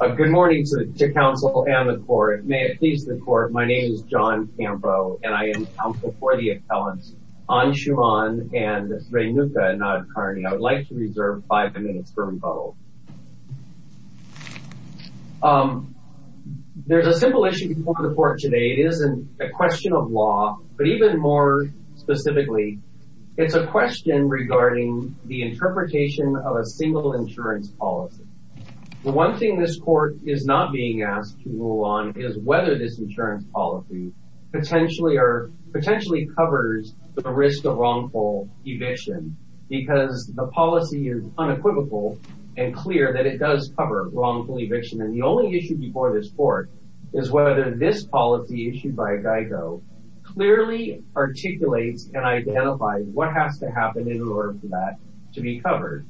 Good morning to counsel and the court. May it please the court, my name is John Campo and I am counsel for the appellants Anshuman and Renuka Nadkarni. I would like to reserve five minutes for rebuttal. There's a simple issue before the court today. It isn't a question of law, but even more specifically, it's a question regarding the interpretation of a single insurance policy. The one thing this court is not being asked to rule on is whether this insurance policy potentially covers the risk of wrongful eviction because the policy is unequivocal and clear that it does cover wrongful eviction and the only issue before this court is whether this policy issued by GEICO clearly articulates and identifies what has to happen in order for that to be covered.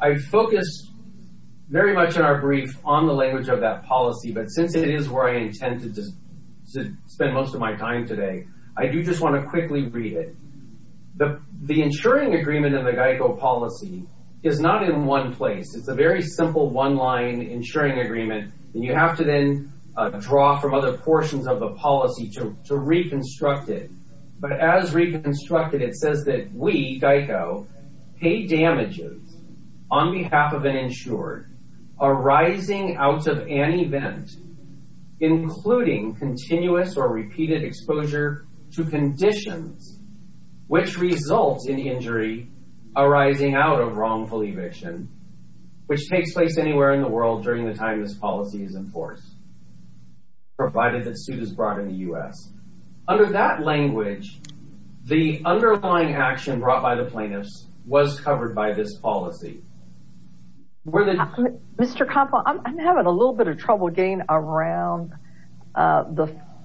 I focused very much in our brief on the language of that policy, but since it is where I intend to spend most of my time today, I do just want to quickly read it. The insuring agreement of the GEICO policy is not in one place. It's a very simple one-line insuring agreement and you have to then draw from other portions of the policy to reconstruct it. But as reconstructed, it says that we, GEICO, pay damages on behalf of an insured arising out of an event, including continuous or repeated exposure to conditions which result in injury arising out of wrongful eviction, which takes place anywhere in the world during the time this policy is enforced, provided that suit is brought in the U.S. Under that language, the underlying action brought by the plaintiffs was covered by this policy. Mr. Conpo, I'm having a little bit of trouble getting around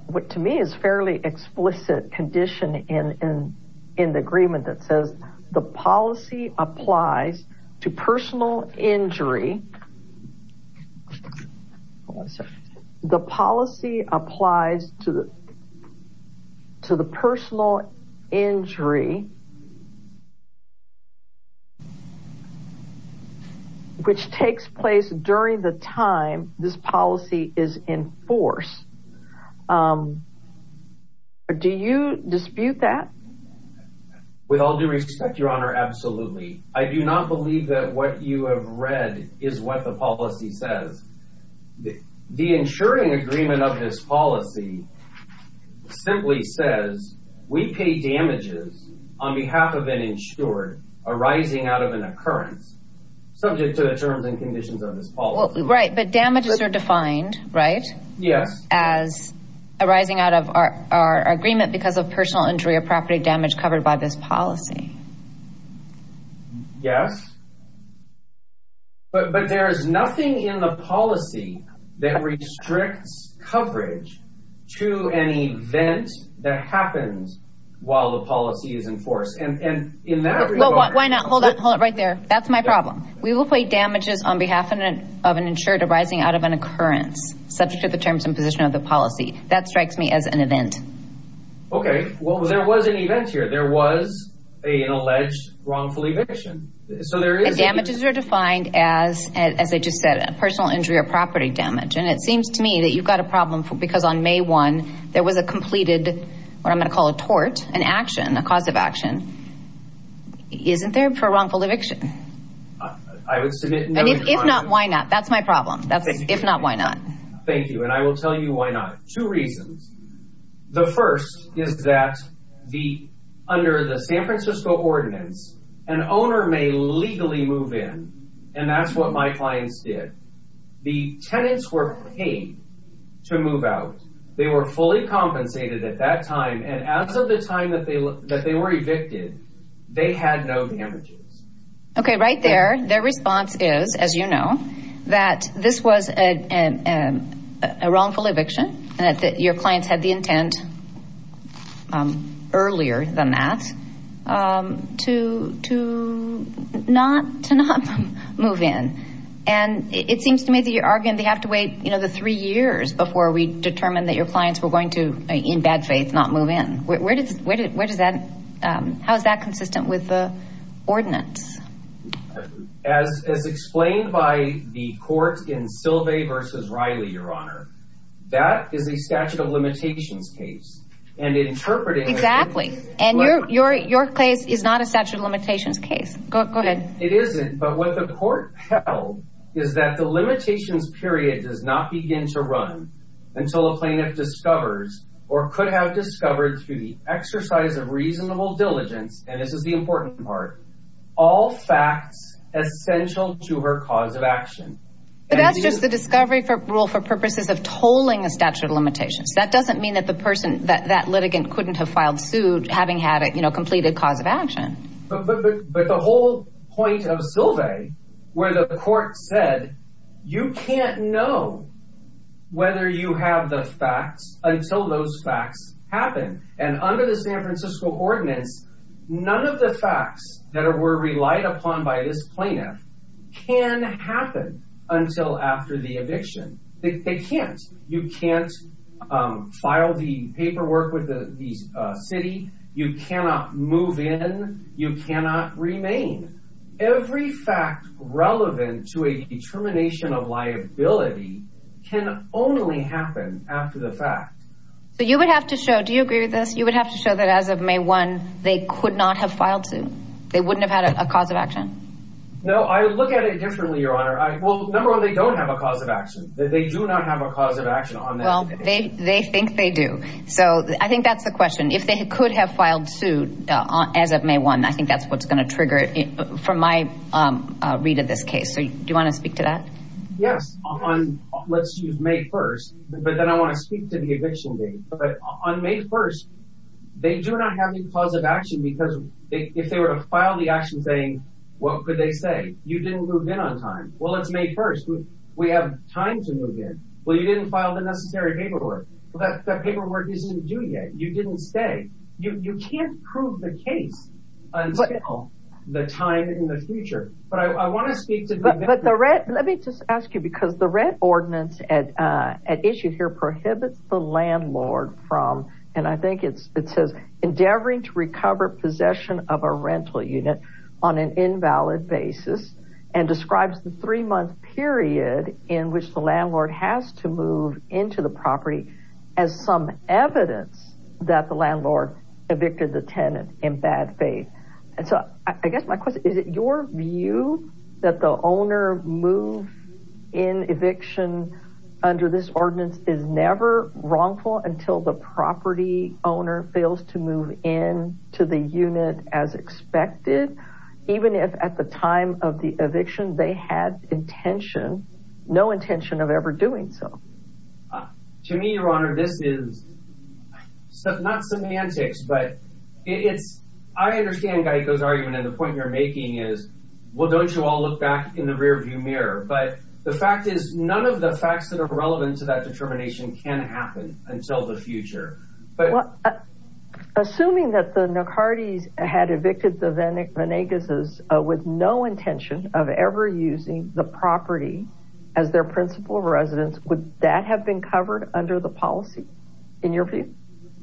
what to me is a fairly explicit condition in the agreement that says the policy applies to personal injury. Hold on a second. The policy applies to the personal injury which takes place during the time this policy is enforced. Do you dispute that? With all due respect, Your Honor, absolutely. I do not believe that what you have read is what the policy says. The insuring agreement of this policy simply says we pay damages on behalf of an insured arising out of an occurrence, subject to the terms and conditions of this policy. Right. But damages are defined, right? Yes. As arising out of our agreement because of personal injury or property damage covered by this policy. Yes. But there is nothing in the policy that restricts coverage to an event that happens while the policy is enforced. And in that regard... Why not? Hold it right there. That's my problem. We will pay damages on behalf of an insured arising out of an occurrence, subject to the terms and position of the policy. That strikes me as an event. Okay. Well, there was an event here. There was an alleged wrongful eviction. So there is... defined as, as I just said, a personal injury or property damage. And it seems to me that you've got a problem because on May 1, there was a completed, what I'm going to call a tort, an action, a cause of action. Isn't there for wrongful eviction? I would submit no... And if not, why not? That's my problem. If not, why not? Thank you. And I will tell you why not. Two reasons. The first is that under the San Francisco ordinance, an owner may legally move in. And that's what my clients did. The tenants were paid to move out. They were fully compensated at that time. And as of the time that they were evicted, they had no damages. Okay. Right there, their response is, as you know, that this was a wrongful eviction and that your clients had the intent earlier than that to not move in. And it seems to me that you're arguing they have to wait, you know, the three years before we determine that your clients were going to, in bad faith, not move in. Where does that... How is that consistent with the ordinance? As explained by the court in Sylvay v. Riley, Your Honor, that is a statute of limitations case. And interpreting... Exactly. And your case is not a statute of limitations case. Go ahead. It isn't. But what the court held is that the limitations period does not begin to run until a plaintiff discovers or could have discovered through the exercise of reasonable diligence, and this is the important part, all facts essential to her cause of action. But that's just the discovery rule for purposes of tolling a statute of limitations. That doesn't mean that the person, that litigant, couldn't have filed suit having had a, you know, completed cause of action. But the whole point of Sylvay, where the court said, you can't know whether you have the facts until those facts happen. And under the San Francisco ordinance, none of the facts that were relied upon by this plaintiff can happen until after the eviction. They can't. You can't file the paperwork with the city. You cannot move in. You cannot remain. Every fact relevant to a determination of liability can only happen after the fact. So you would have to show... Do you agree with this? You would have to show that as of May 1, they could not have filed suit. They wouldn't have had a cause of action. No, I look at it differently, Your Honor. Well, number one, they don't have a cause of action. They do not have a cause of action. Well, they think they do. So I think that's the question. If they could have filed suit as of May 1, I think that's what's going to trigger it from my read of this case. So do you want to speak to that? Yes. Let's use May 1. But then I want to speak to the eviction date. On May 1, they do not have any cause of action because if they were to file the action saying, what could they say? You didn't move in on time. Well, it's May 1. We have time to move in. Well, you didn't file the necessary paperwork. Well, that paperwork isn't due yet. You didn't stay. You can't prove the case until the time in the future. But I want to speak to... But let me just ask you, because the rent ordinance at issue here prohibits the landlord from, and I think it says, endeavoring to recover possession of a rental unit on an invalid basis and describes the three month period in which the landlord has to move into the property as some evidence that the landlord evicted the tenant in bad faith. And so I guess my question, is it your view that the owner move in eviction under this ordinance is never wrongful until the property owner fails to move in to the unit as expected, even if at the time of the eviction, they had intention, no intention of ever doing so? To me, your honor, this is not semantics, but it's, I understand Guyico's argument and the point you're making is, well, don't you all look back in the rear view mirror? But the fact is, none of the facts that are relevant to that determination can happen until the future. Assuming that the Nicardes had evicted the Venegases with no intention of ever using the property as their principal residence, would that have been covered under the policy in your view?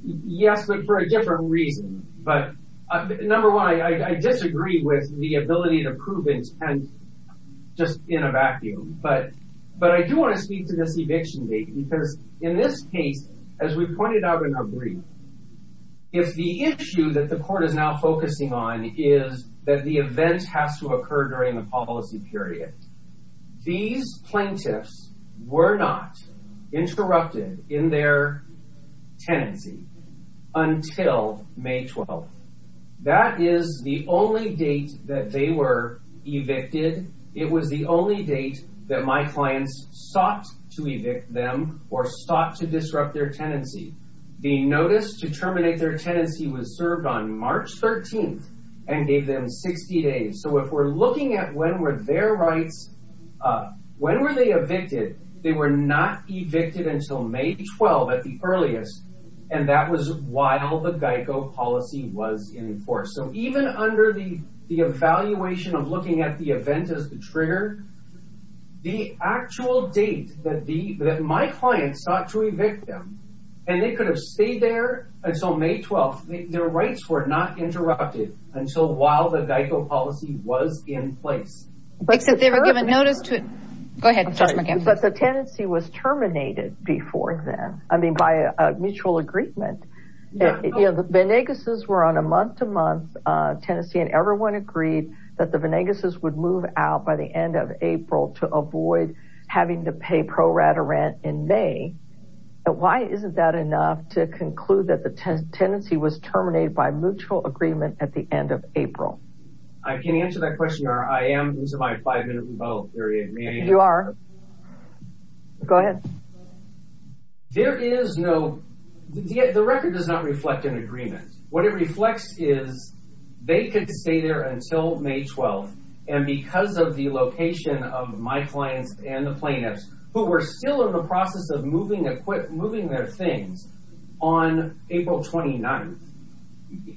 Yes, but for a different reason. Number one, I disagree with the ability to prove intent just in a vacuum, but I do want to speak to this eviction date because in this case, as we pointed out in our brief, if the issue that the court is now focusing on is that the event has to occur during the policy period, these plaintiffs were not interrupted in their tenancy until May 12th. That is the only date that they were evicted. It was the only date that my clients sought to evict them or sought to disrupt their tenancy. The notice to terminate their tenancy was served on March 13th and gave them 60 days. So if we're looking at when were their rights, when were they evicted? They were not evicted until May 12th at the earliest, and that was while the GEICO policy was in force. So even under the evaluation of looking at the event as the trigger, the actual date that my clients sought to evict them, and they could have stayed there until May 12th, their rights were not interrupted until while the GEICO policy was in place. But the tenancy was terminated before then, I mean by a mutual agreement. The Venegases were on a month-to-month tenancy, and everyone agreed that the Venegases would move out by the end of April to avoid having to pay pro rata rent in May. Why isn't that enough to conclude that the tenancy was terminated by mutual agreement at the end of April? I can answer that question or I am losing my five-minute rebuttal period. You are. Go ahead. There is no – the record does not reflect an agreement. What it reflects is they could stay there until May 12th, and because of the location of my clients and the plaintiffs who were still in the process of moving their things on April 29th,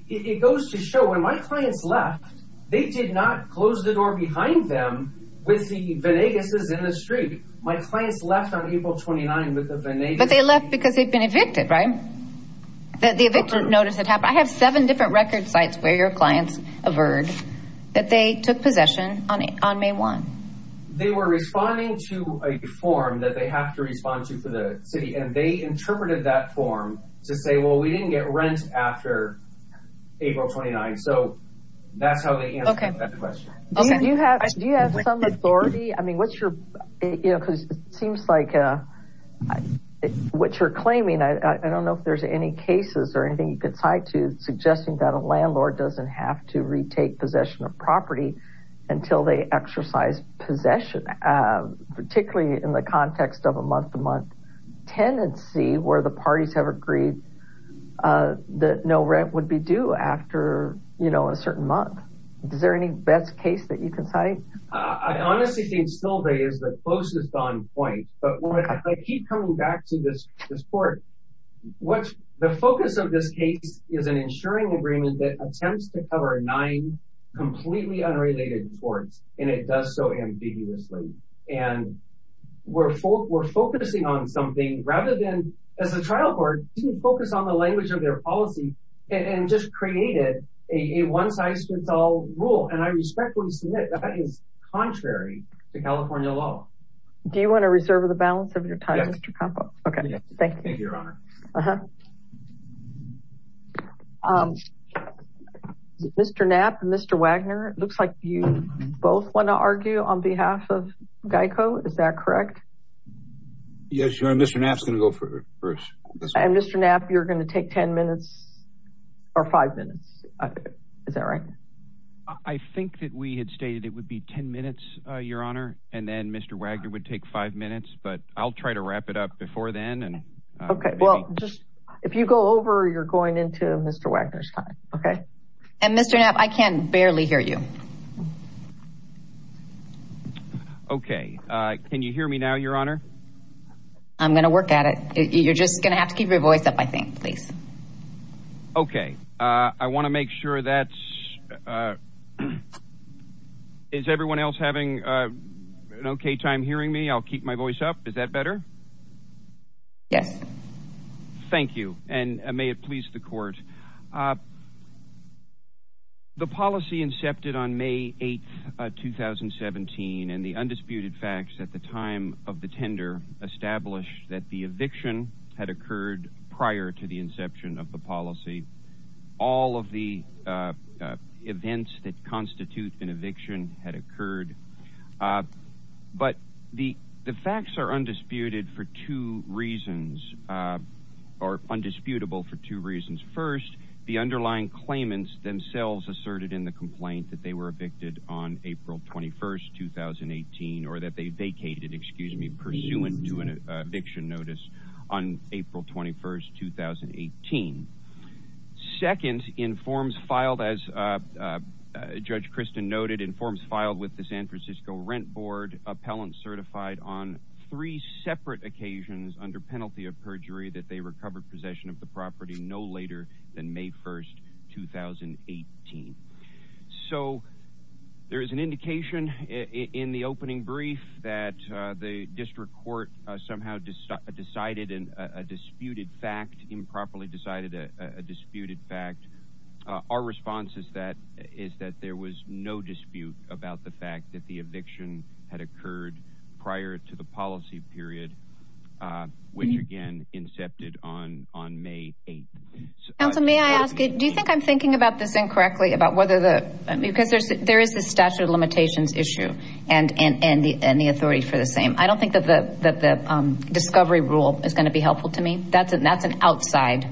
it goes to show when my clients left, they did not close the door behind them with the Venegases in the street. My clients left on April 29th with the Venegases. But they left because they had been evicted, right? The evictor noticed it happened. I have seven different record sites where your clients averred that they took possession on May 1st. They were responding to a form that they have to respond to for the city, and they interpreted that form to say, well, we didn't get rent after April 29th. So that's how they answered that question. Do you have some authority? I mean, what's your – because it seems like what you're claiming, I don't know if there's any cases or anything you could cite to suggesting that a landlord doesn't have to retake possession of property until they exercise possession, particularly in the context of a month-to-month tenancy where the parties have agreed that no rent would be due after, you know, a certain month. Is there any best case that you can cite? I honestly think Stilvey is the closest on point. But when I keep coming back to this court, the focus of this case is an insuring agreement that attempts to cover nine completely unrelated courts, and it does so ambiguously. And we're focusing on something rather than – as a trial court, didn't focus on the language of their policy and just created a one-size-fits-all rule. And I respectfully submit that is contrary to California law. Do you want to reserve the balance of your time, Mr. Capo? Yes. Okay, thank you. Thank you, Your Honor. Mr. Knapp and Mr. Wagner, it looks like you both want to argue on behalf of GEICO. Is that correct? Yes, Your Honor. Mr. Knapp is going to go first. And Mr. Knapp, you're going to take ten minutes or five minutes. Is that right? I think that we had stated it would be ten minutes, Your Honor, and then Mr. Wagner would take five minutes. But I'll try to wrap it up before then. Okay. Well, just – if you go over, you're going into Mr. Wagner's time. Okay? And Mr. Knapp, I can barely hear you. Okay. Can you hear me now, Your Honor? I'm going to work at it. You're just going to have to keep your voice up, I think, please. Okay. I want to make sure that's – is everyone else having an okay time hearing me? I'll keep my voice up. Is that better? Yes. Thank you. And may it please the court. The policy incepted on May 8, 2017, and the undisputed facts at the time of the tender established that the eviction had occurred prior to the inception of the policy. All of the events that constitute an eviction had occurred. But the facts are undisputed for two reasons – or undisputable for two reasons. First, the underlying claimants themselves asserted in the complaint that they were evicted on April 21, 2018, or that they vacated, excuse me, pursuant to an eviction notice on April 21, 2018. Second, in forms filed, as Judge Christin noted, in forms filed with the San Francisco Rent Board, appellants certified on three separate occasions under penalty of perjury that they recovered possession of the property no later than May 1, 2018. So there is an indication in the opening brief that the district court somehow decided a disputed fact, improperly decided a disputed fact. Our response is that there was no dispute about the fact that the eviction had occurred prior to the policy period, which, again, incepted on May 8. Counsel, may I ask, do you think I'm thinking about this incorrectly? Because there is the statute of limitations issue and the authority for the same. I don't think that the discovery rule is going to be helpful to me. That's an outside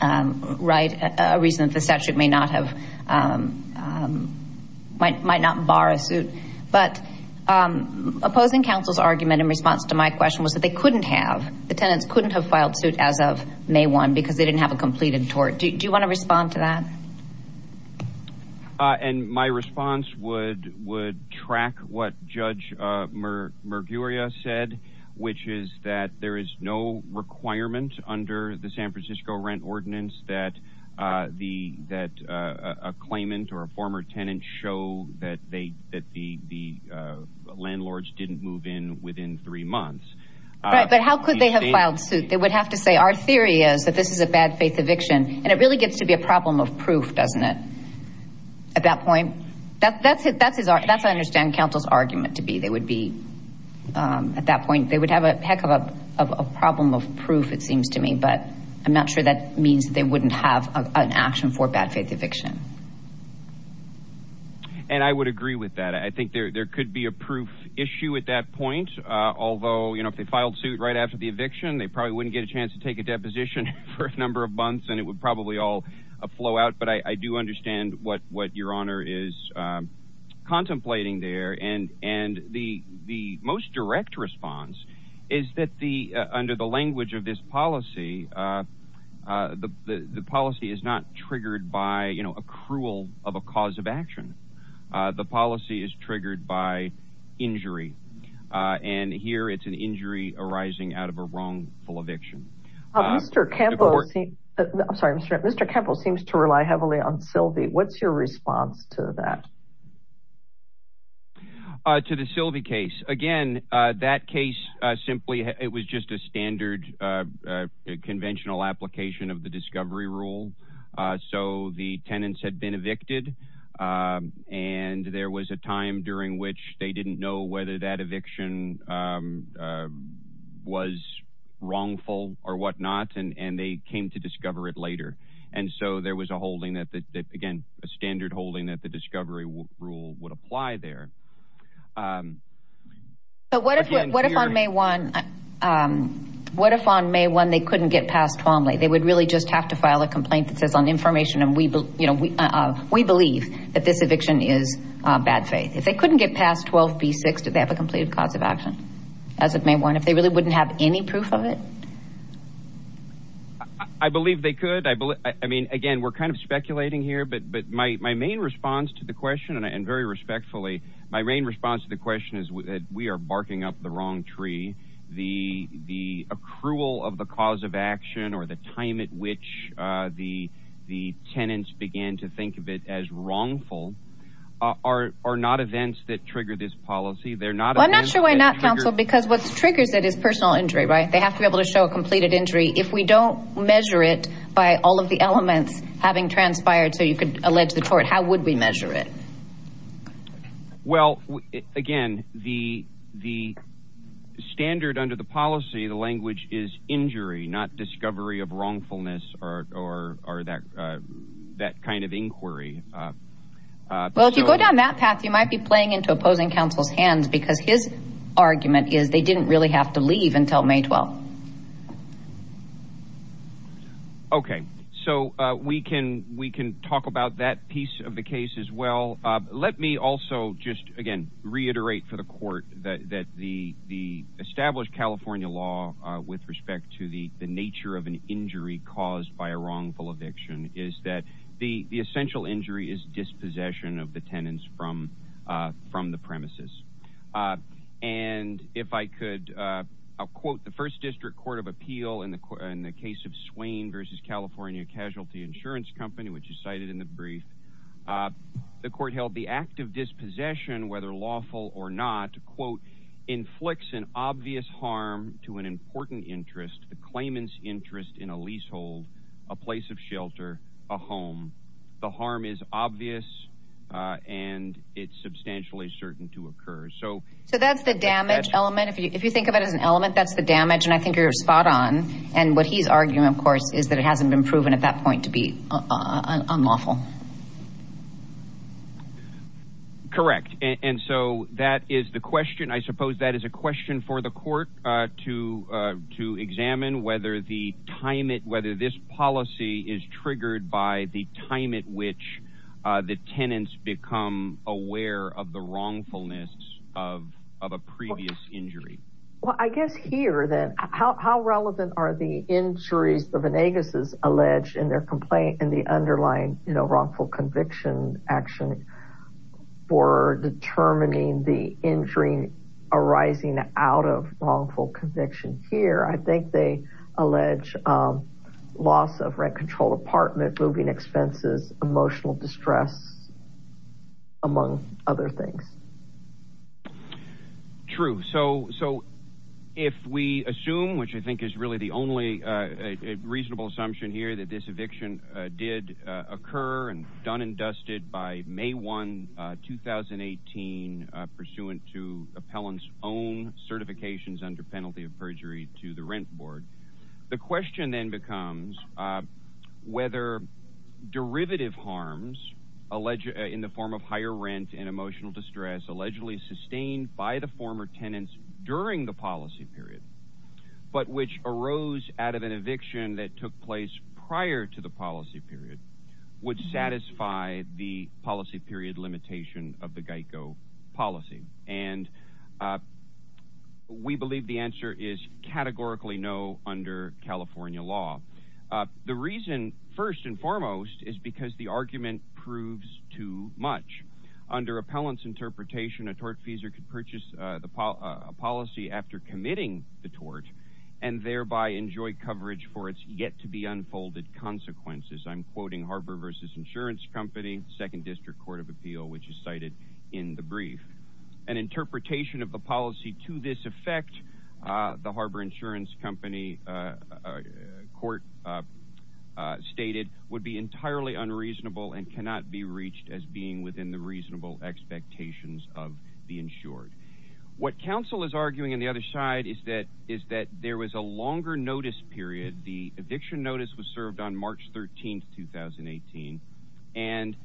reason that the statute might not bar a suit. But opposing counsel's argument in response to my question was that they couldn't have, the tenants couldn't have filed suit as of May 1 because they didn't have a completed tort. Do you want to respond to that? And my response would track what Judge Murguria said, which is that there is no requirement under the San Francisco rent ordinance that a claimant or a former tenant show that the landlords didn't move in within three months. Right, but how could they have filed suit? They would have to say, our theory is that this is a bad faith eviction, and it really gets to be a problem of proof, doesn't it, at that point? That's what I understand counsel's argument to be. They would be, at that point, they would have a heck of a problem of proof, it seems to me, but I'm not sure that means they wouldn't have an action for bad faith eviction. And I would agree with that. I think there could be a proof issue at that point, although if they filed suit right after the eviction, they probably wouldn't get a chance to take a deposition for a number of months, and it would probably all flow out. But I do understand what Your Honor is contemplating there. And the most direct response is that under the language of this policy, the policy is not triggered by a cruel of a cause of action. The policy is triggered by injury. And here it's an injury arising out of a wrongful eviction. Mr. Campbell seems to rely heavily on Sylvie. What's your response to that? To the Sylvie case, again, that case simply, it was just a standard conventional application of the discovery rule. So the tenants had been evicted, and there was a time during which they didn't know whether that eviction was wrongful or whatnot, and they came to discover it later. And so there was a holding that, again, a standard holding that the discovery rule would apply there. But what if on May 1 they couldn't get passed formally? They would really just have to file a complaint that says, on information, we believe that this eviction is bad faith. If they couldn't get past 12B6, do they have a completed cause of action? As of May 1. If they really wouldn't have any proof of it? I believe they could. I mean, again, we're kind of speculating here, but my main response to the question, and very respectfully, my main response to the question is that we are barking up the wrong tree. The accrual of the cause of action or the time at which the tenants began to think of it as wrongful are not events that trigger this policy. I'm not sure why not, counsel, because what triggers it is personal injury, right? They have to be able to show a completed injury. If we don't measure it by all of the elements having transpired so you could allege the tort, how would we measure it? Well, again, the standard under the policy, the language is injury, not discovery of wrongfulness or that kind of inquiry. Well, if you go down that path, you might be playing into opposing counsel's hands because his argument is they didn't really have to leave until May 12. Okay. So we can talk about that piece of the case as well. Let me also just, again, reiterate for the court that the established California law with respect to the nature of an injury caused by a wrongful eviction is that the essential injury is dispossession of the tenants from the premises. And if I could, I'll quote the First District Court of Appeal in the case of Swain versus California Casualty Insurance Company, which is cited in the brief. The court held the act of dispossession, whether lawful or not, quote, inflicts an obvious harm to an important interest, the claimant's interest in a leasehold, a place of shelter, a home. The harm is obvious and it's substantially certain to occur. So that's the damage element. If you think of it as an element, that's the damage. And I think you're spot on. And what he's arguing, of course, is that it hasn't been proven at that point to be unlawful. Correct. And so that is the question. I suppose that is a question for the court to examine whether this policy is triggered by the time at which the tenants become aware of the wrongfulness of a previous injury. Well, I guess here then, how relevant are the injuries the Venegas' allege in their complaint in the underlying wrongful conviction action for determining the injury arising out of wrongful conviction? I think they allege loss of rent-controlled apartment, moving expenses, emotional distress, among other things. True. So if we assume, which I think is really the only reasonable assumption here, that this eviction did occur and done and dusted by May 1, 2018, pursuant to appellant's own certifications under penalty of perjury to the rent board, the question then becomes whether derivative harms in the form of higher rent and emotional distress allegedly sustained by the former tenants during the policy period, but which arose out of an eviction that took place prior to the policy period, would satisfy the policy period limitation of the GEICO policy. And we believe the answer is categorically no under California law. The reason, first and foremost, is because the argument proves too much. Under appellant's interpretation, a tortfeasor could purchase a policy after committing the tort and thereby enjoy coverage for its yet-to-be-unfolded consequences. I'm quoting Harbor vs. Insurance Company, 2nd District Court of Appeal, which is cited in the brief. An interpretation of the policy to this effect, the Harbor Insurance Company court stated, would be entirely unreasonable and cannot be reached as being within the reasonable expectations of the insured. What counsel is arguing on the other side is that there was a longer notice period. The eviction notice was served on March 13th, 2018, and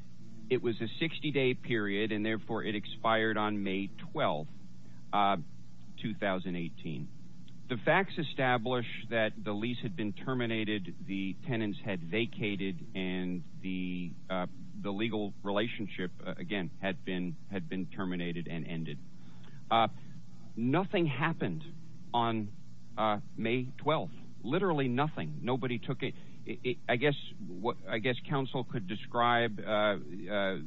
it was a 60-day period, and therefore it expired on May 12th, 2018. The facts establish that the lease had been terminated, the tenants had vacated, and the legal relationship, again, had been terminated and ended. Nothing happened on May 12th. Literally nothing. Nobody took it. I guess counsel could describe the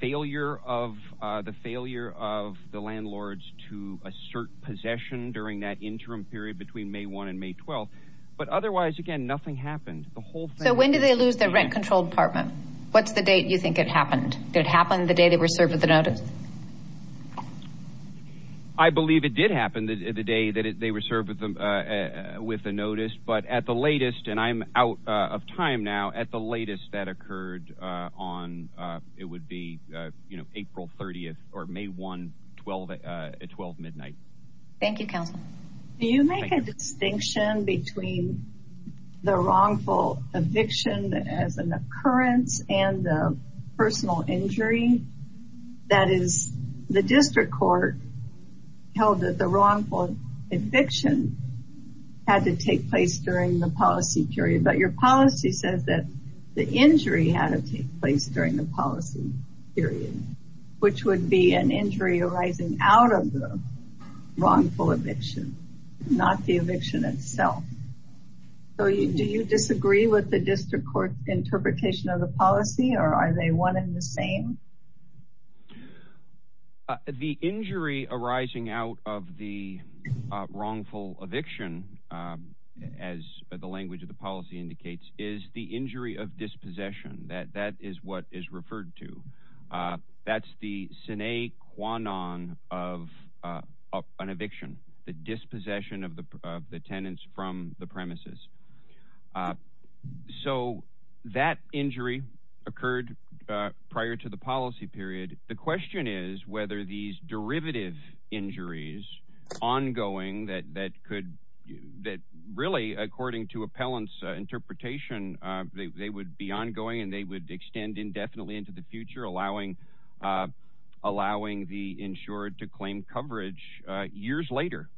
failure of the landlords to assert possession during that interim period between May 1 and May 12, but otherwise, again, nothing happened. So when did they lose their rent-controlled apartment? What's the date you think it happened? Did it happen the day they were served with the notice? I believe it did happen the day that they were served with the notice, but at the latest, and I'm out of time now, at the latest that occurred on, it would be April 30th or May 1, 12 midnight. Thank you, counsel. Do you make a distinction between the wrongful eviction as an occurrence and the personal injury? That is, the district court held that the wrongful eviction had to take place during the policy period, but your policy says that the injury had to take place during the policy period, which would be an injury arising out of the wrongful eviction, not the eviction itself. So do you disagree with the district court interpretation of the policy, or are they one and the same? The injury arising out of the wrongful eviction, as the language of the policy indicates, is the injury of dispossession. That is what is referred to. That's the sine qua non of an eviction, the dispossession of the tenants from the premises. So that injury occurred prior to the policy period. The question is whether these derivative injuries, ongoing, that really, according to appellant's interpretation, they would be ongoing and they would extend indefinitely into the future, allowing the insured to claim coverage years later.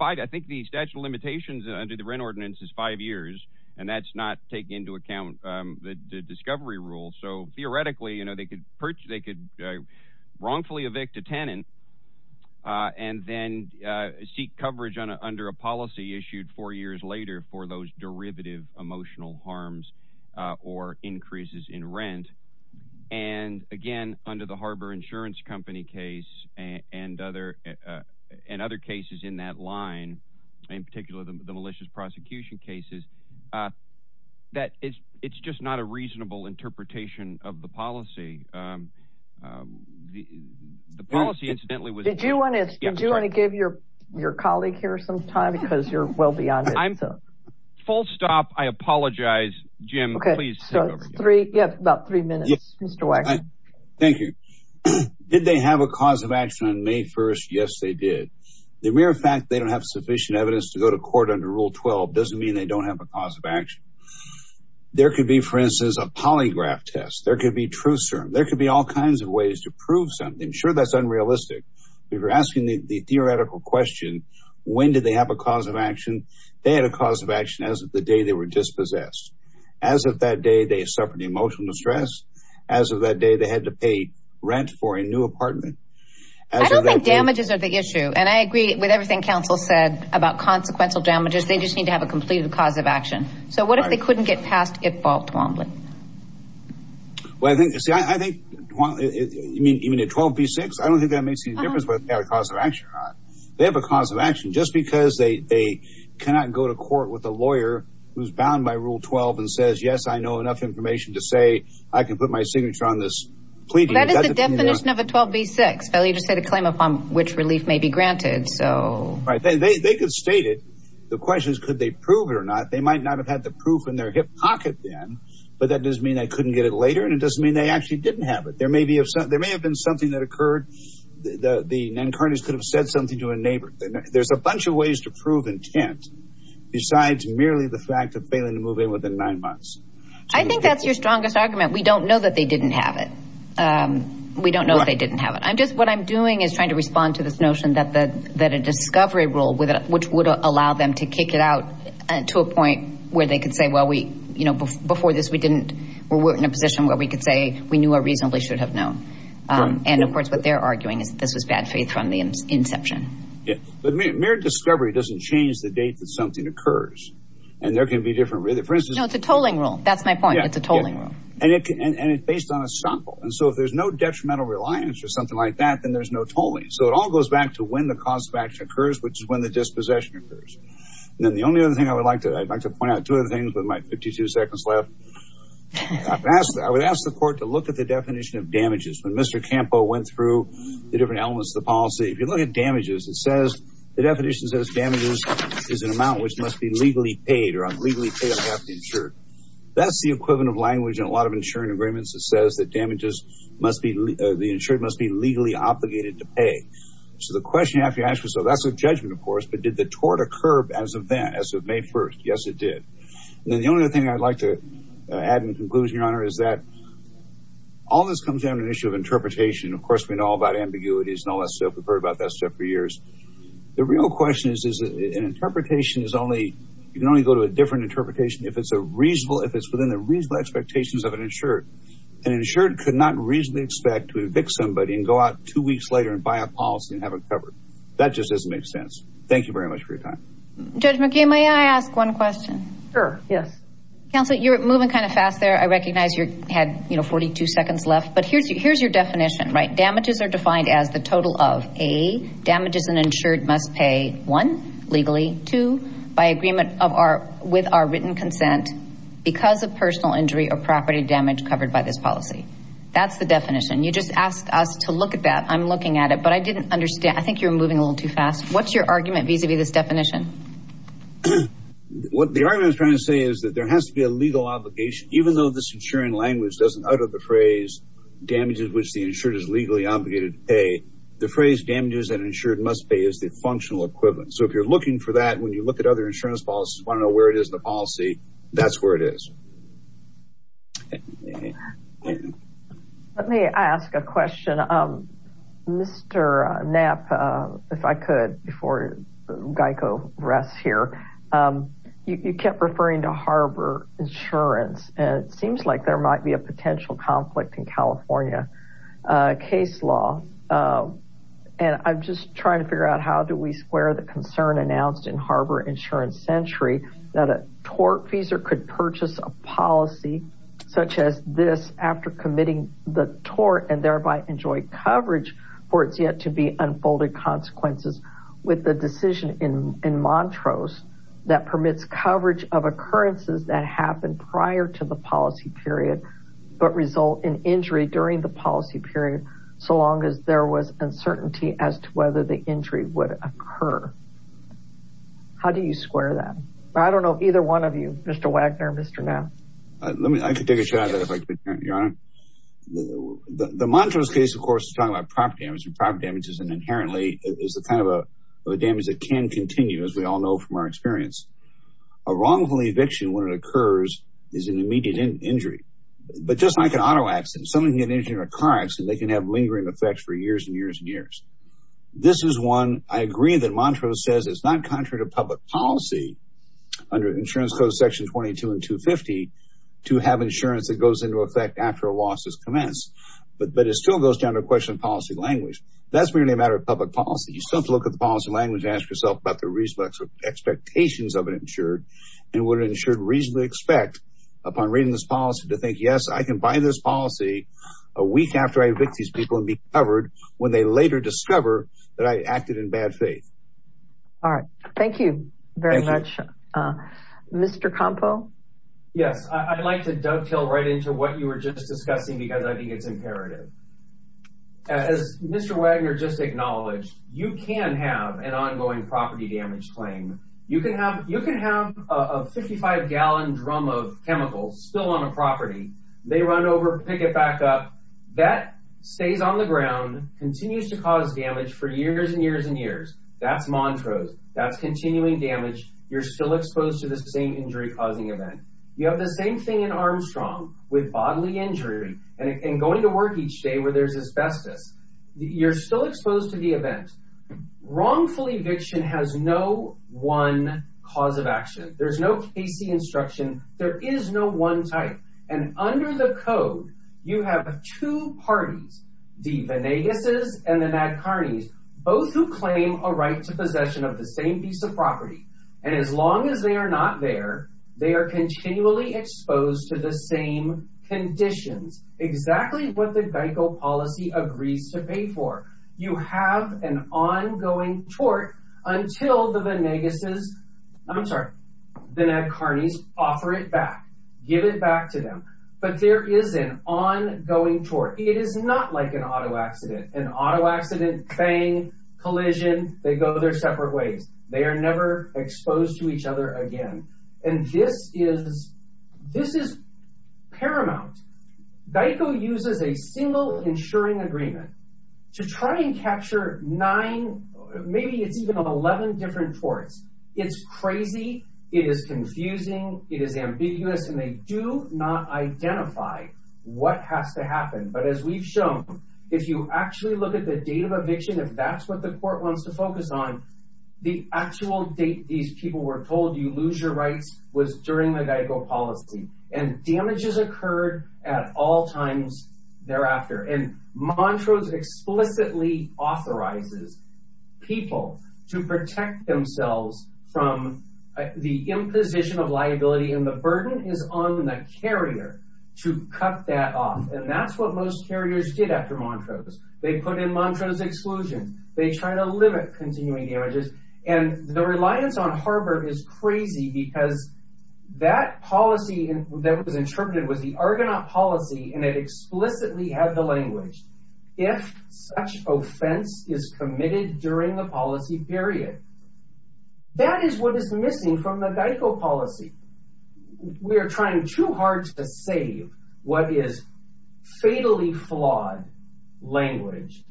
I think the statute of limitations under the rent ordinance is five years, and that's not taking into account the discovery rule. So theoretically, they could wrongfully evict a tenant and then seek coverage under a policy issued four years later for those derivative emotional harms or increases in rent. And again, under the Harbor Insurance Company case and other cases in that line, in particular the malicious prosecution cases, that it's just not a reasonable interpretation of the policy. The policy, incidentally, was— Did you want to give your colleague here some time because you're well beyond it? Full stop. I apologize. Jim, please. About three minutes. Mr. Waxman. Thank you. Did they have a cause of action on May 1st? Yes, they did. The mere fact they don't have sufficient evidence to go to court under Rule 12 doesn't mean they don't have a cause of action. There could be, for instance, a polygraph test. There could be truth serum. There could be all kinds of ways to prove something. Sure, that's unrealistic. If you're asking the theoretical question, when did they have a cause of action, they had a cause of action as of the day they were dispossessed. As of that day, they suffered emotional distress. As of that day, they had to pay rent for a new apartment. I don't think damages are the issue. And I agree with everything counsel said about consequential damages. They just need to have a completed cause of action. So what if they couldn't get past Ipval Twombly? Well, I think—see, I think—you mean a 12b-6? I don't think that makes any difference whether they have a cause of action or not. They have a cause of action just because they cannot go to court with a lawyer who's bound by Rule 12 and says, yes, I know enough information to say I can put my signature on this plea deal. That is the definition of a 12b-6. You just say the claim upon which relief may be granted. Right. They could state it. The question is could they prove it or not. They might not have had the proof in their hip pocket then, but that doesn't mean they couldn't get it later, and it doesn't mean they actually didn't have it. There may have been something that occurred. The Nankardis could have said something to a neighbor. There's a bunch of ways to prove intent besides merely the fact of failing to move in within nine months. I think that's your strongest argument. We don't know that they didn't have it. We don't know that they didn't have it. What I'm doing is trying to respond to this notion that a discovery rule, which would allow them to kick it out to a point where they could say, well, before this we were in a position where we could say we knew or reasonably should have known. And, of course, what they're arguing is that this was bad faith from the inception. But mere discovery doesn't change the date that something occurs, and there can be different reasons. No, it's a tolling rule. That's my point. It's a tolling rule. And it's based on a sample. And so if there's no detrimental reliance or something like that, then there's no tolling. So it all goes back to when the cause of action occurs, which is when the dispossession occurs. And then the only other thing I would like to point out, two other things with my 52 seconds left, I would ask the court to look at the definition of damages. When Mr. Campo went through the different elements of the policy, if you look at damages, it says the definition says damages is an amount which must be legally paid or unlegally paid or have to be insured. That's the equivalent of language in a lot of insuring agreements. It says that damages must be – the insured must be legally obligated to pay. So the question you have to ask yourself, that's a judgment, of course, but did the tort occur as of then, as of May 1st? Yes, it did. And then the only other thing I'd like to add in conclusion, Your Honor, is that all this comes down to an issue of interpretation. Of course, we know all about ambiguities and all that stuff. We've heard about that stuff for years. The real question is an interpretation is only – you can only go to a different interpretation if it's a reasonable – if it's within the reasonable expectations of an insured. An insured could not reasonably expect to evict somebody and go out two weeks later and buy a policy and have it covered. That just doesn't make sense. Thank you very much for your time. Judge McKee, may I ask one question? Sure, yes. Counsel, you're moving kind of fast there. I recognize you had, you know, 42 seconds left, but here's your definition, right? Damages an insured must pay, one, legally, two, by agreement of our – with our written consent, because of personal injury or property damage covered by this policy. That's the definition. You just asked us to look at that. I'm looking at it, but I didn't understand. I think you're moving a little too fast. What's your argument vis-à-vis this definition? What the argument I was trying to say is that there has to be a legal obligation. Even though this insuring language doesn't utter the phrase, damages which the insured is legally obligated to pay, the phrase damages an insured must pay is the functional equivalent. So if you're looking for that, when you look at other insurance policies, you want to know where it is in the policy, that's where it is. Let me ask a question. Mr. Knapp, if I could, before Geico rests here, you kept referring to harbor insurance. And I'm just trying to figure out how do we square the concern announced in harbor insurance century that a tortfeasor could purchase a policy such as this after committing the tort and thereby enjoy coverage for its yet-to-be-unfolded consequences with the decision in Montrose that permits coverage of occurrences that happened prior to the policy period but result in injury during the policy period, so long as there was uncertainty as to whether the injury would occur. How do you square that? I don't know if either one of you, Mr. Wagner, Mr. Knapp. I could take a shot at it if I could, Your Honor. The Montrose case, of course, is talking about prop damages, and prop damages inherently is the kind of damage that can continue, as we all know from our experience. A wrongful eviction when it occurs is an immediate injury. But just like an auto accident, someone can get injured in a car accident. They can have lingering effects for years and years and years. This is one I agree that Montrose says is not contrary to public policy under insurance code section 22 and 250 to have insurance that goes into effect after a loss has commenced. But it still goes down to a question of policy language. That's really a matter of public policy. You simply look at the policy language and ask yourself about the expectations of an insured and what an insured would reasonably expect upon reading this policy to think, yes, I can buy this policy a week after I evict these people and be covered when they later discover that I acted in bad faith. All right. Thank you very much. Mr. Campo? Yes, I'd like to dovetail right into what you were just discussing because I think it's imperative. As Mr. Wagner just acknowledged, you can have an ongoing property damage claim. You can have a 55-gallon drum of chemicals still on a property. They run over, pick it back up. That stays on the ground, continues to cause damage for years and years and years. That's Montrose. That's continuing damage. You're still exposed to the same injury-causing event. You have the same thing in Armstrong with bodily injury and going to work each day where there's asbestos. You're still exposed to the event. Wrongful eviction has no one cause of action. There's no casey instruction. There is no one type. And under the code, you have two parties, the Vanegas' and the Nadkarni's, And as long as they are not there, they are continually exposed to the same conditions. Exactly what the Geico policy agrees to pay for. You have an ongoing tort until the Vanegas', I'm sorry, the Nadkarni's offer it back, give it back to them. But there is an ongoing tort. It is not like an auto accident. An auto accident, bang, collision, they go their separate ways. They are never exposed to each other again. And this is paramount. Geico uses a single insuring agreement to try and capture nine, maybe it's even 11 different torts. It's crazy. It is confusing. It is ambiguous. And they do not identify what has to happen. But as we've shown, if you actually look at the date of eviction, if that's what the court wants to focus on, the actual date these people were told, you lose your rights, was during the Geico policy. And damages occurred at all times thereafter. And Montrose explicitly authorizes people to protect themselves from the imposition of liability. And the burden is on the carrier to cut that off. And that's what most carriers did after Montrose. They put in Montrose exclusion. They try to limit continuing damages. And the reliance on harbor is crazy because that policy that was interpreted was the Argonaut policy, and it explicitly had the language. If such offense is committed during the policy period, that is what is missing from the Geico policy. We are trying too hard to save what is fatally flawed language.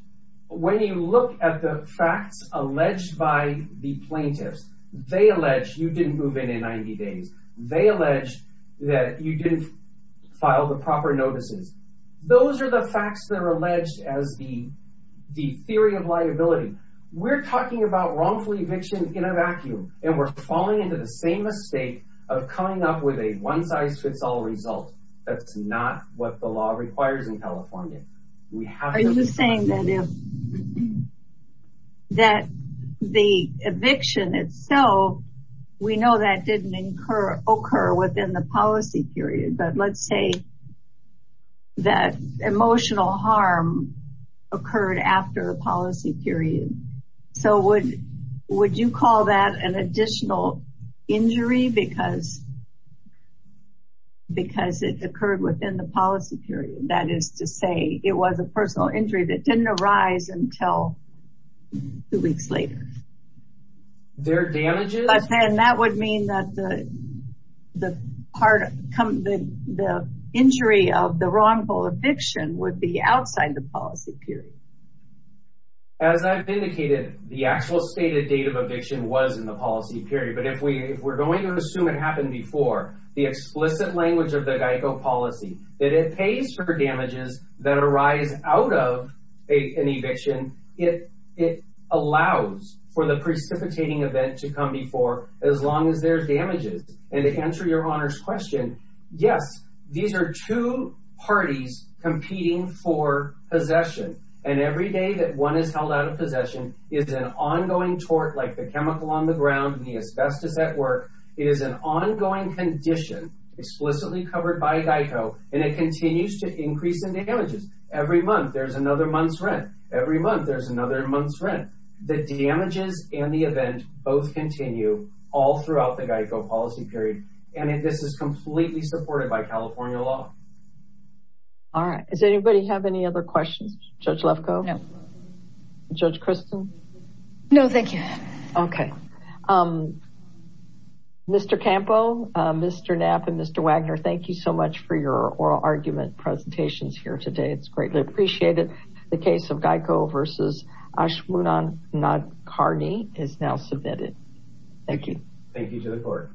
When you look at the facts alleged by the plaintiffs, they allege you didn't move in in 90 days. They allege that you didn't file the proper notices. Those are the facts that are alleged as the theory of liability. We're talking about wrongful eviction in a vacuum, and we're falling into the same mistake of coming up with a one-size-fits-all result. That's not what the law requires in California. Are you saying that the eviction itself, we know that didn't occur within the policy period, but let's say that emotional harm occurred after the policy period. So would you call that an additional injury because it occurred within the policy period? That is to say it was a personal injury that didn't arise until two weeks later. But then that would mean that the injury of the wrongful eviction would be outside the policy period. As I've indicated, the actual stated date of eviction was in the policy period, but if we're going to assume it happened before, the explicit language of the Geico policy that it pays for damages that arise out of an eviction, it allows for the precipitating event to come before as long as there's damages. And to answer your Honor's question, yes, these are two parties competing for possession, and every day that one is held out of possession is an ongoing tort like the chemical on the ground and the asbestos at work is an ongoing condition explicitly covered by Geico, and it continues to increase in damages. Every month there's another month's rent. Every month there's another month's rent. The damages and the event both continue all throughout the Geico policy period, and this is completely supported by California law. All right. Does anybody have any other questions? Judge Lefkoe? No. Judge Kristen? No, thank you. Okay. Mr. Campo, Mr. Knapp, and Mr. Wagner, thank you so much for your oral argument presentations here today. It's greatly appreciated. The case of Geico v. Ashwodan Nadkarni is now submitted. Thank you. Thank you to the court.